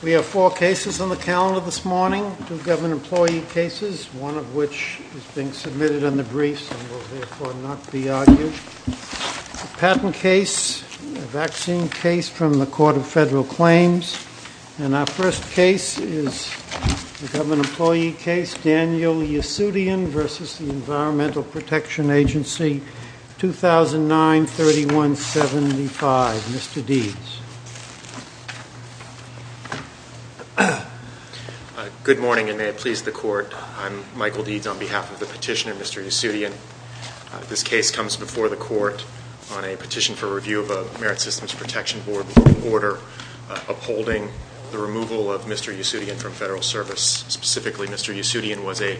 We have four cases on the calendar this morning, two government employee cases, one of which is being submitted in the briefs and will therefore not be argued, a patent case, a vaccine case from the Court of Federal Claims, and our first case is a government employee case, Daniel Yasudian v. Environmental Protection Agency, 2009-3175. Mr. Deeds. Good morning and may it please the Court. I'm Michael Deeds on behalf of the petitioner, Mr. Yasudian. This case comes before the Court on a petition for review of a Merit Systems Protection Board order upholding the removal of Mr. Yasudian from Federal Service, specifically Mr. Yasudian was a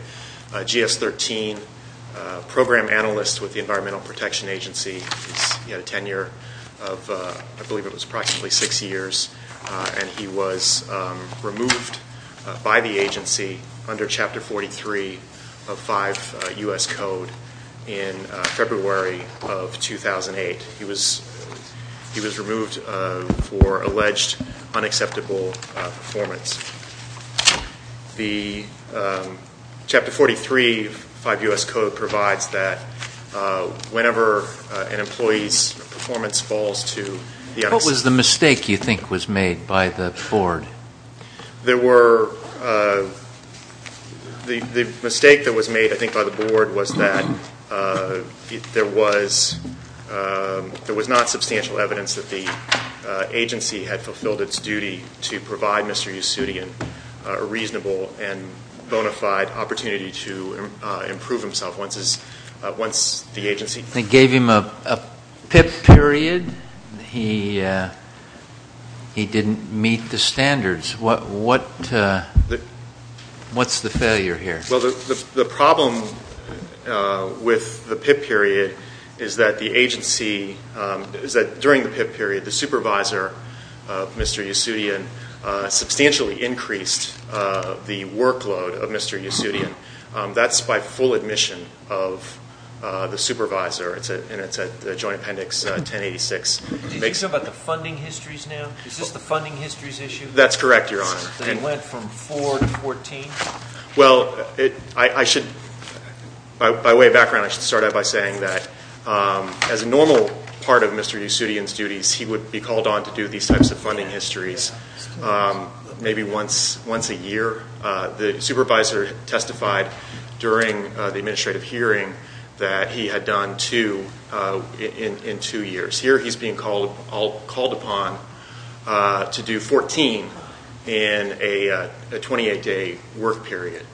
GS-13 program analyst with the Environmental Protection Agency. He had a tenure of, I believe it was approximately six years, and he was removed by the agency under Chapter 43 of 5 U.S. Code in February of 2008. He was removed for alleged unacceptable performance. Chapter 43 of 5 U.S. Code provides that whenever an employee's performance falls to the unacceptable. What was the mistake you think was made by the board? The mistake that was made, I think, by the board was that there was not substantial evidence that the agency provide Mr. Yasudian a reasonable and bona fide opportunity to improve himself once the agency. They gave him a PIP period. He didn't meet the standards. What's the failure here? Well, the problem with the PIP period is that the agency, is that during the PIP period, the supervisor of Mr. Yasudian substantially increased the workload of Mr. Yasudian. That's by full admission of the supervisor, and it's at the Joint Appendix 1086. Did you say about the funding histories now? Is this the funding histories issue? That's correct, Your Honor. It went from 4 to 14? Well, by way of background, I should start out by saying that as a normal part of Mr. Yasudian's duties, he would be called on to do these types of funding histories maybe once a year. The supervisor testified during the administrative hearing that he had done two in two years. Here, he's being called upon to do 14 in a 28-day work period.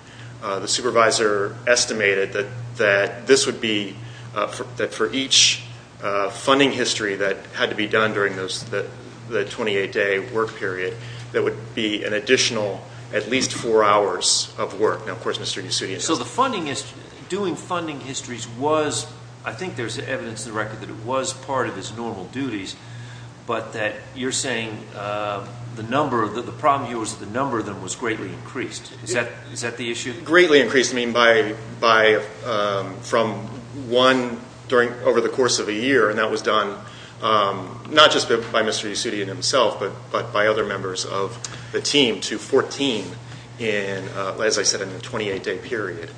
The supervisor estimated that this would be, that for each funding history that had to be done during the 28-day work period, that would be an additional at least four hours of work. Now, of course, Mr. Yasudian doesn't... So the funding, doing funding histories was, I think there's evidence in the record that it was part of his normal duties, but that you're saying the number, the problem here was that the number of them was greatly increased. Is that the issue? Greatly increased, I mean, by, from one during, over the course of a year, and that was done not just by Mr. Yasudian himself, but by other members of the team to 14 in, as I said, in a 28-day period.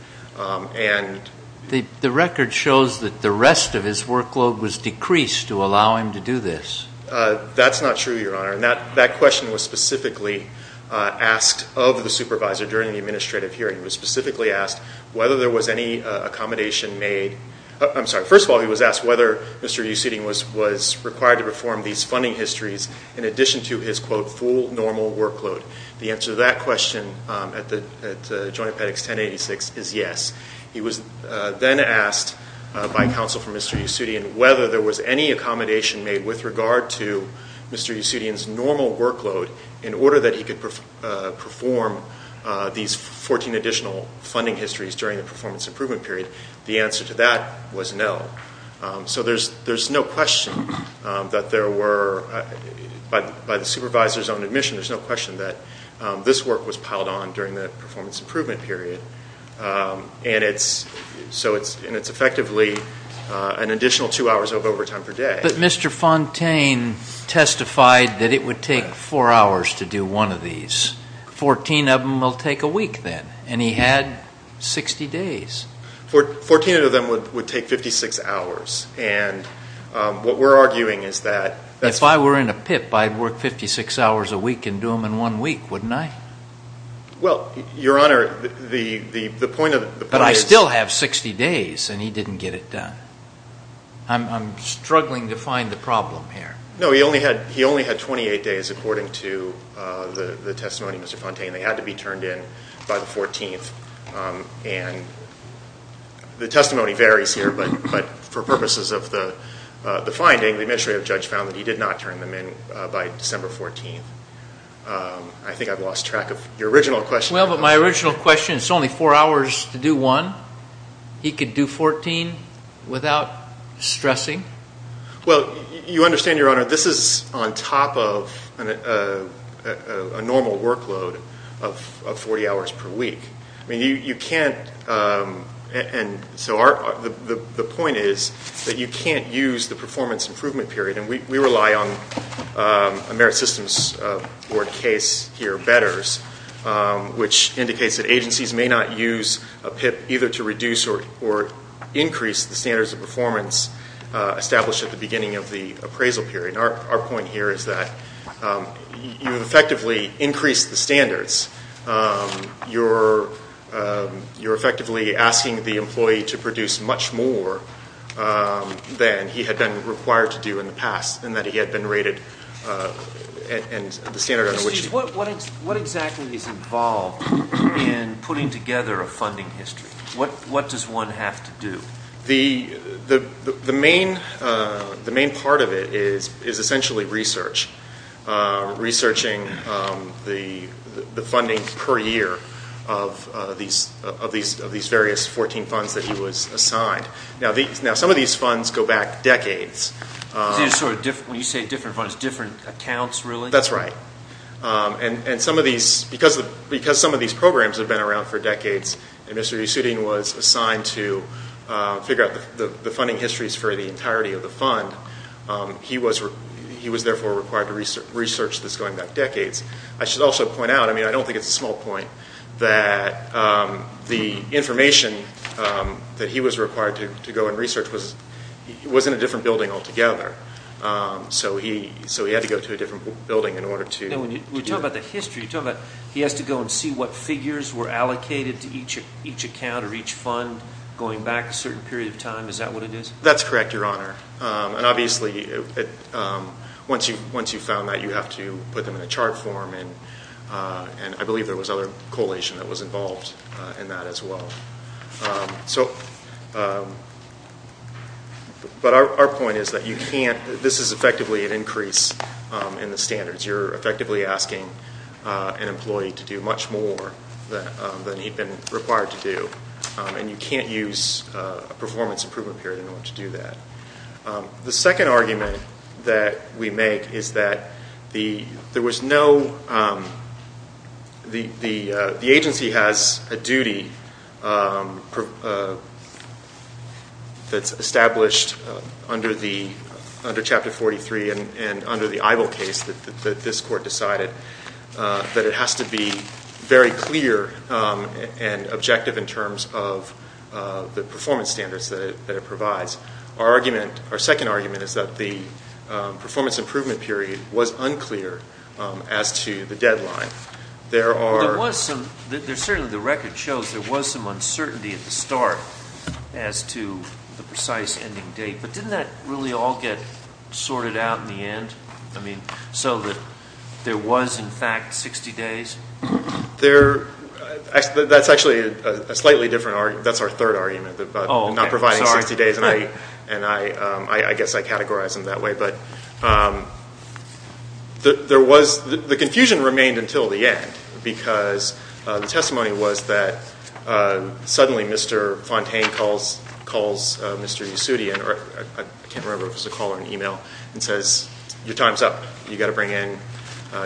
The record shows that the rest of his workload was decreased to allow him to do this. That's not true, Your Honor. That question was specifically asked of the supervisor during the administrative hearing. It was specifically asked whether there was any accommodation made... I'm sorry. First of all, he was asked whether Mr. Yasudian was required to perform these funding histories in addition to his, quote, full normal workload. The answer to that question at the Joint Appendix 1086 is yes. He was then asked by counsel for Mr. Yasudian whether there was any accommodation made with regard to Mr. Yasudian's normal workload in order that he could perform these 14 additional funding histories during the performance improvement period. The answer to that was no. So there's no question that there were, by the supervisor's own admission, there's no question that this work was piled on during the performance improvement period, and it's, so it's, and it's effectively an additional two hours of to do one of these. Fourteen of them will take a week then, and he had 60 days. Fourteen of them would take 56 hours, and what we're arguing is that... If I were in a pip, I'd work 56 hours a week and do them in one week, wouldn't I? Well, Your Honor, the point of the point is... But I still have 60 days, and he didn't get it done. I'm struggling to find the problem here. No, he only had, he only had 28 days according to the testimony, Mr. Fontaine. They had to be turned in by the 14th, and the testimony varies here, but for purposes of the finding, the administrative judge found that he did not turn them in by December 14th. I think I've lost track of your original question. Well, but my original question, it's only four hours to do one. He could do 14 without stressing? Well, you understand, Your Honor, this is on top of a normal workload of 40 hours per week. I mean, you can't, and so our, the point is that you can't use the performance improvement period, and we rely on a merit systems board case here, which indicates that agencies may not use a PIP either to reduce or increase the standards of performance established at the beginning of the appraisal period. Our point here is that you've effectively increased the standards. You're effectively asking the employee to produce much more than he had been required to do in the past, and that he had been rated, and the standard under which he... Excuse me, what exactly is involved in putting together a funding history? What does one have to do? The main part of it is essentially research, researching the funding per year of these various 14 funds that he was assigned. Now, some of these funds go back decades. When you say different funds, different accounts, really? That's right, and some of these, because some of these programs have been around for decades, and Mr. Yusudin was assigned to figure out the funding histories for the entirety of the fund, he was therefore required to research this going back decades. I should also point out, I go in research, he was in a different building altogether, so he had to go to a different building in order to... When you talk about the history, you're talking about he has to go and see what figures were allocated to each account or each fund going back a certain period of time, is that what it is? That's correct, Your Honor, and obviously, once you've found that, you have to put them in a chart form, and I believe there was other coalition that was involved in that as well. But our point is that you can't... This is effectively an increase in the standards. You're effectively asking an employee to do much more than he'd been required to do, and you can't use a performance improvement period in order to do that. The second argument that we make is that there was no... The agency has a duty that's established under Chapter 43 and under the Ivo case that this court decided, that it has to be very clear and objective in terms of the performance standards that it provides. Our argument, our second argument, is that the as to the deadline. There are... There was some... Certainly, the record shows there was some uncertainty at the start as to the precise ending date, but didn't that really all get sorted out in the end? I mean, so that there was, in fact, 60 days? That's actually a slightly different argument. That's our third argument, not providing 60 days, and I guess I categorize them that way. But there was... The confusion remained until the end because the testimony was that suddenly Mr. Fontaine calls Mr. Yossoudian, or I can't remember if it was a call or an email, and says, your time's up. You've got to bring in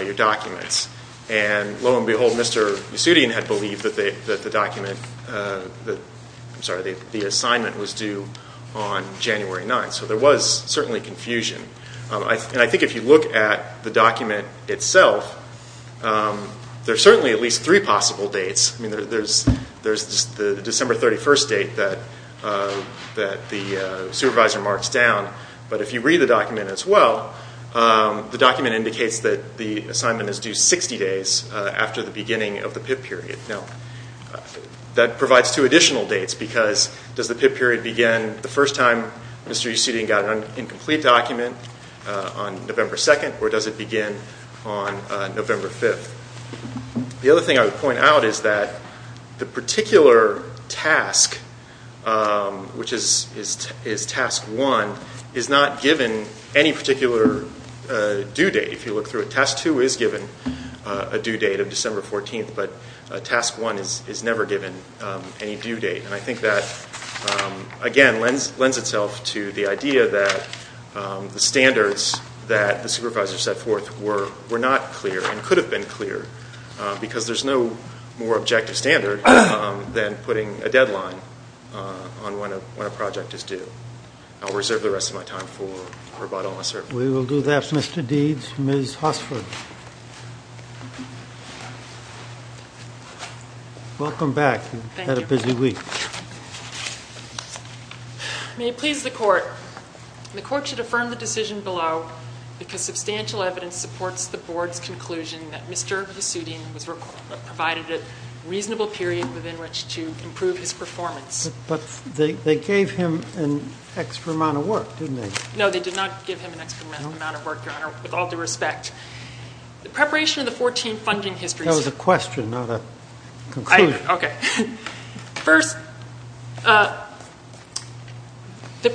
your documents. And lo and behold, Mr. Yossoudian had believed that the document... I'm sorry, the assignment was due on January 9th. So there was certainly confusion. And I think if you look at the document itself, there are certainly at least three possible dates. I mean, there's the December 31st date that the supervisor marks down. But if you read the document as well, the document indicates that the assignment is due 60 days after the beginning of the PIP period. Now, that provides two additional dates because does the PIP period begin the first time Mr. Yossoudian got an incomplete document on November 2nd, or does it begin on November 5th? The other thing I would point out is that the particular task, which is task one, is not given any particular due date. If you look through it, task two is given a due date of December 14th, but task one is never given any due date. And I think that, again, lends itself to the idea that the standards that the supervisor set forth were not clear and could have been clear because there's no more objective standard than putting a deadline on when a project is due. I'll reserve the rest of my time for that. May it please the Court, the Court should affirm the decision below because substantial evidence supports the Board's conclusion that Mr. Yossoudian was provided a reasonable period within which to improve his performance. But they gave him an extra amount of work, didn't they? No, they did not give him an extra amount of work, Your Honor, with all due respect. The preparation of the 14 funding histories... That was a question, not a conclusion. Okay. First, the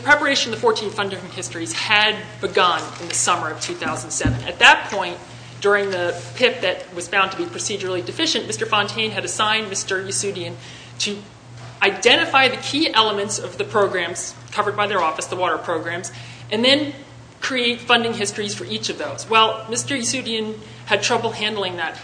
preparation of the 14 funding histories had begun in the summer of 2007. At that point, during the PIP that was found to be procedurally deficient, Mr. Fontaine had assigned Mr. Yossoudian to identify the key elements of the programs covered by their office, the water programs, and then create funding histories for each of those. Well, Mr. Yossoudian had trouble handling that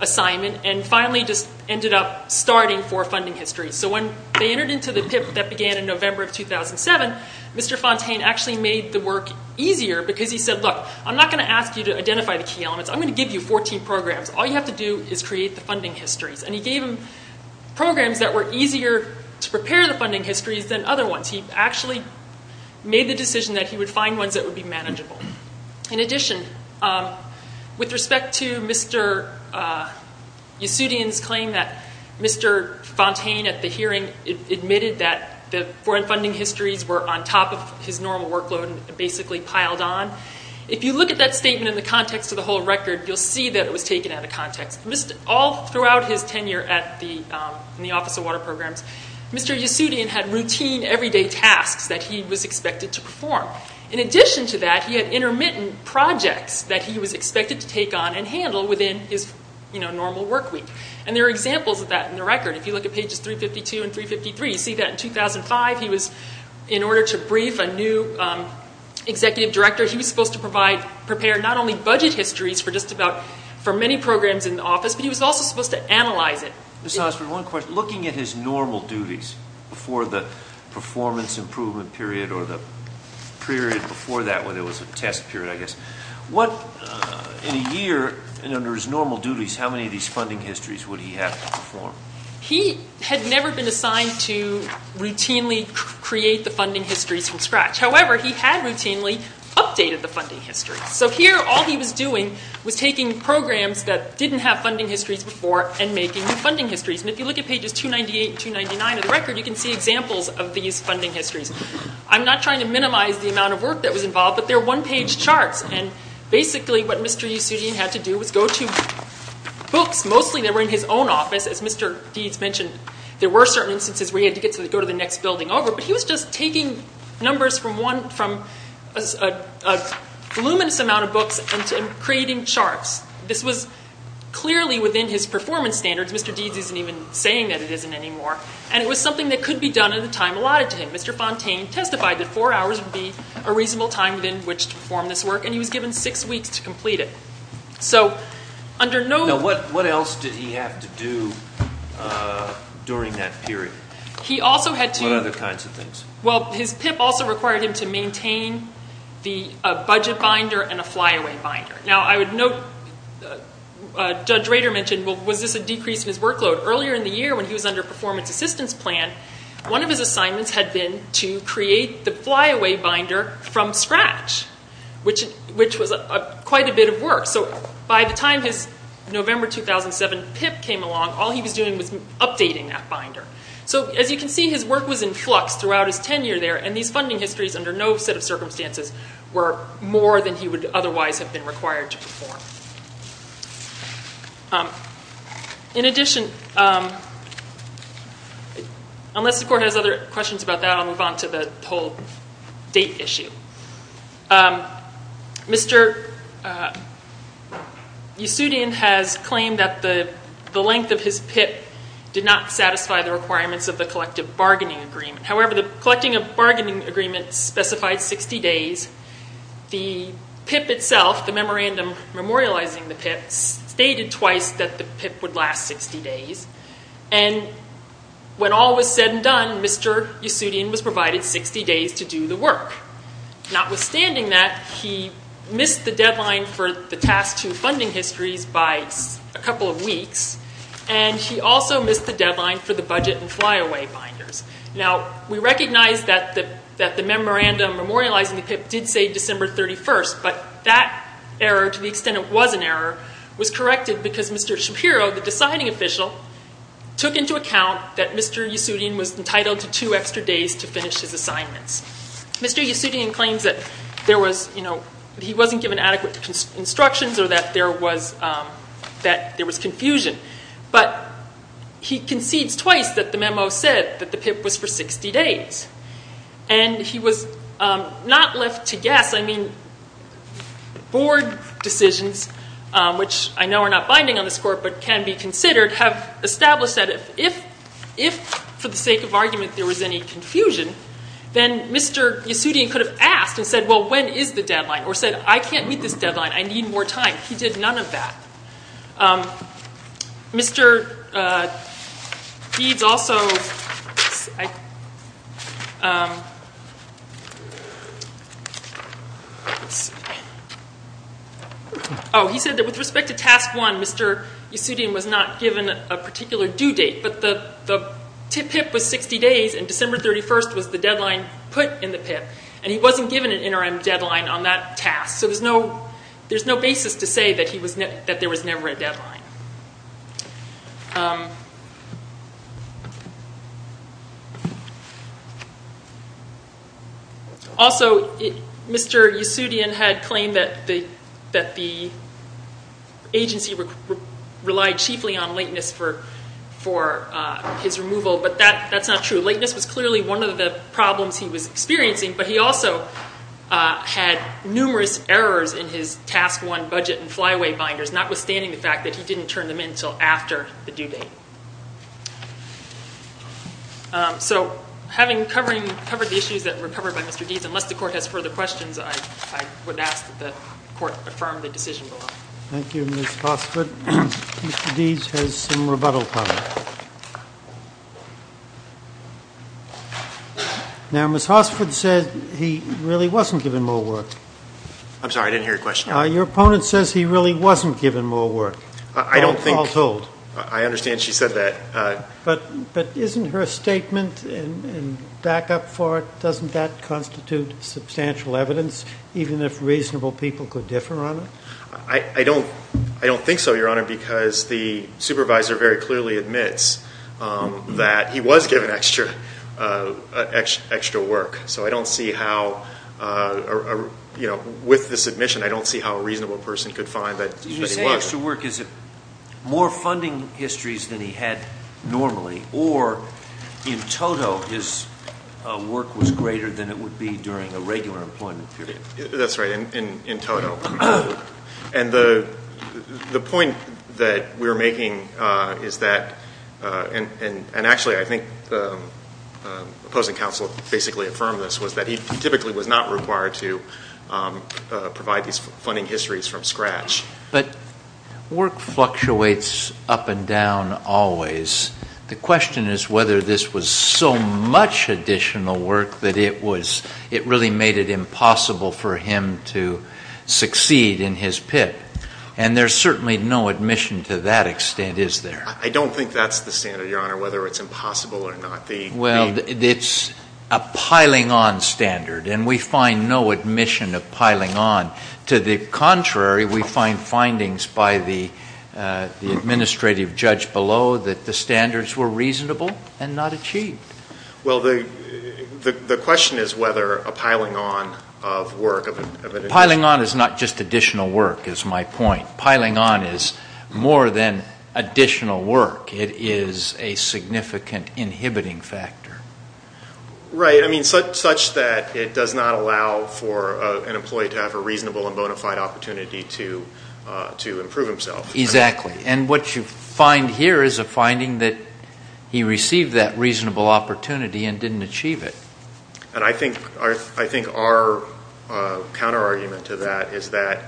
assignment and finally just ended up starting for funding histories. So when they entered into the PIP that began in November of 2007, Mr. Fontaine actually made the work easier because he said, look, I'm not going to ask you to identify the key elements. I'm going to give you 14 programs. All you have to do is create the funding histories. And he gave them programs that were easier to prepare the funding histories than other ones. He actually made the decision that he would find ones that would be manageable. In addition, with respect to Mr. Yossoudian's claim that Mr. Fontaine at the hearing admitted that the foreign funding histories were on top of his normal workload and basically piled on, if you look at that statement in the context of the whole record, you'll see that it was taken out of context. All throughout his tenure in the Office of Water Programs, Mr. Yossoudian had routine, everyday tasks that he was expected to perform. In addition to that, he had intermittent projects that he was expected to take on and handle within his normal work week. And there are examples of that in the record. If you look at pages 352 and 353, you see that in 2005 he was, in order to brief a new executive director, he was supposed to provide, prepare not only budget histories for just about, for many programs in the office, but he was also supposed to analyze it. Mr. Osborne, one question. Looking at his normal duties before the performance improvement period or the period before that, when it was a test period, I guess, what, in a year, and under his normal duties, how many of these funding histories would he have to perform? He had never been assigned to routinely create the funding histories from scratch. However, he had routinely updated the funding histories. So here, all he was doing was taking programs that didn't have funding histories before and making funding histories. And if you look at pages 298 and 299 of the record, you can see examples of these funding histories. I'm not trying to minimize the amount of work that was involved, but they're one-page charts. And basically, what Mr. Yossoudian had to do was go to books, mostly that were in his own office. As Mr. Deeds mentioned, there were certain instances where they had to go to the next building over, but he was just taking numbers from a voluminous amount of books and creating charts. This was clearly within his performance standards. Mr. Deeds isn't even saying that it isn't anymore. And it was something that could be done at a time allotted to him. Mr. Fontaine testified that four hours would be a reasonable time within which to perform this work, and he was given six weeks to complete it. Now, what else did he have to do during that period? What other kinds of things? Well, his PIP also required him to maintain a budget binder and a flyaway binder. Now, I would note, Judge Rader mentioned, was this a decrease in his workload? Earlier in the year, when he was under a performance assistance plan, one of his assignments had been to create the flyaway binder from scratch, which was quite a bit of work. So, by the time his November 2007 PIP came along, all he was doing was updating that binder. So, as you can see, his work was in flux throughout his tenure there, and these funding histories, under no set of circumstances, were more than he would otherwise have been required to perform. In addition, unless the Court has other questions about that, I'll move on to the whole date issue. Mr. Yossoudian has claimed that the length of his PIP did not satisfy the requirements of the collective bargaining agreement. However, the collective bargaining agreement specified 60 days. The PIP itself, the memorandum memorializing the PIP, stated twice that the PIP would last 60 days. And when all was said and done, Mr. Yossoudian was provided 60 days to do the work. Notwithstanding that, he missed the deadline for the Task 2 funding histories by a couple of weeks, and he also missed the deadline for the budget and flyaway binders. Now, we recognize that the memorandum memorializing the PIP did say December 31st, but that error, to the extent it was an error, was corrected because Mr. Shapiro, the deciding official, took into account that Mr. Yossoudian was entitled to two extra days to finish his assignments. Mr. Yossoudian claims that he wasn't given adequate instructions or that there was confusion, but he concedes twice that the memo said that the PIP was for 60 days. And he was not left to guess. I mean, board decisions, which I know are not binding on this Court but can be considered, have established that if, for the sake of argument, there was any confusion, then Mr. Yossoudian could have asked and said, well, when is the deadline, or said, I can't meet this deadline, I need more time. He did none of that. Mr. Deeds also said that with respect to Task 1, Mr. Yossoudian was not given a particular due date, but the PIP was 60 days, and December 31st was the deadline put in the PIP, and he wasn't given an interim deadline on that task. So there's no basis to say that there was never a deadline. Also, Mr. Yossoudian had claimed that the agency relied chiefly on lateness for his removal, but that's not true. Lateness was clearly one of the problems he was experiencing, but he also had numerous errors in his Task 1 budget and fly-away binders, notwithstanding the fact that he didn't turn them in until after the due date. So having covered the issues that were covered by Mr. Deeds, unless the Court has further questions, I would ask that the Court affirm the decision below. Thank you, Ms. Hossford. Mr. Deeds has some rebuttal comments. Now, Ms. Hossford said he really wasn't given more work. I'm sorry, I didn't hear your question. Your opponent says he really wasn't given more work, all told. I understand she said that. But isn't her statement, and back up for it, doesn't that constitute substantial evidence, even if reasonable people could differ on it? I don't think so, Your Honor, because the supervisor very clearly admits that he was given extra work. So I don't see how, with this admission, I don't see how a reasonable person could find that he was. When you say extra work, is it more funding histories than he had normally, or in total his work was greater than it would be during a regular employment period? That's right, in total. And the point that we're making is that, and actually I think the opposing counsel basically affirmed this, was that he typically was not required to provide these funding histories from scratch. But work fluctuates up and down always. The question is whether this was so much additional work that it really made it impossible for him to succeed in his PIP. And there's certainly no admission to that extent, is there? I don't think that's the standard, Your Honor, whether it's impossible or not. Well, it's a piling on standard, and we find no admission of piling on. To the contrary, we find findings by the administrative judge below that the standards were reasonable and not achieved. Well, the question is whether a piling on of work... Piling on is not just additional work, is my point. Piling on is more than additional work. It is a significant inhibiting factor. Right. I mean, such that it does not allow for an employee to have a reasonable and bona fide opportunity to improve himself. Exactly. And what you find here is a finding that he received that reasonable opportunity and didn't achieve it. And I think our counterargument to that is that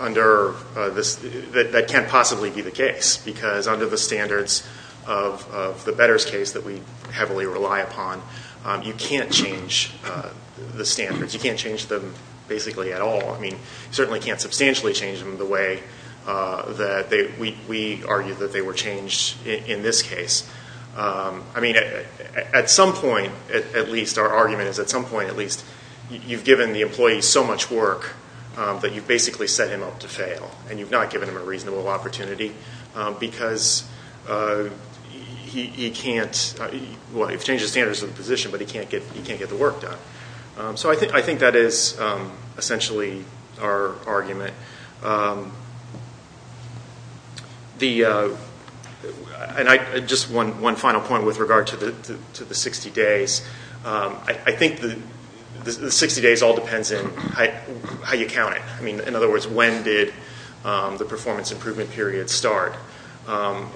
under this, that can't possibly be the case. Because under the standards of the Betters case that we heavily rely upon, you can't change the standards. You can't change them basically at all. I mean, you certainly can't substantially change them the way that we argue that they were changed in this case. I mean, at some point, at least, our argument is at some point, at least, you've given the employee so much work that you've basically set him up to fail. And you've not given him a reasonable opportunity because he can't... Well, you've changed the standards of the position, but he can't get the work done. So I think that is essentially our argument. Just one final point with regard to the 60 days. I think the 60 days all depends on how you count it. I mean, in other words, when did the performance improvement period start? And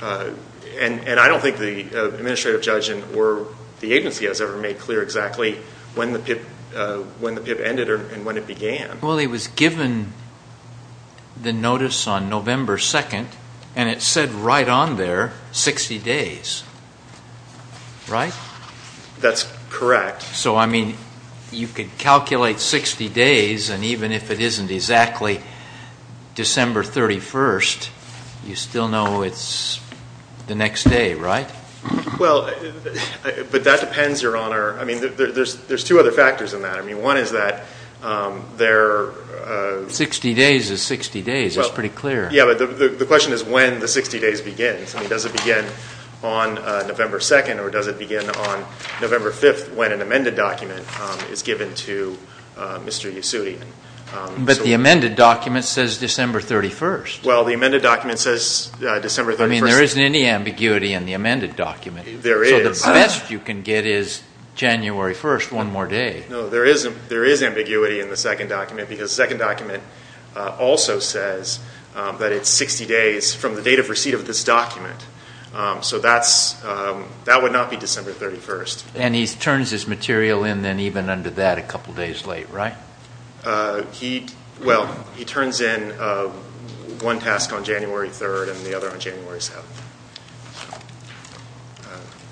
I don't think the administrative judge or the agency has ever made clear exactly when the PIP ended and when it began. Well, he was given the notice on November 2nd, and it said right on there, 60 days. Right? That's correct. So, I mean, you could calculate 60 days, and even if it isn't exactly December 31st, you still know it's the next day, right? Well, but that depends, Your Honor. I mean, there's two other factors in that. I mean, one is that there... 60 days is 60 days. It's pretty clear. Yeah, but the question is when the 60 days begin. I mean, does it begin on November 2nd or does it begin on November 5th when an amended document is given to Mr. Yossoudi? But the amended document says December 31st. Well, the amended document says December 31st. I mean, there isn't any ambiguity in the amended document. There is. So the best you can get is January 1st, one more day. No, there is ambiguity in the second document because the second document also says that it's 60 days from the date of receipt of this document. So that would not be December 31st. And he turns his material in then even under that a couple days late, right? Well, he turns in one task on January 3rd and the other on January 7th.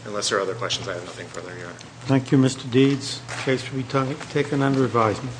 Unless there are other questions, I have nothing further, Your Honor. Thank you, Mr. Deeds. The case will be taken under advisement.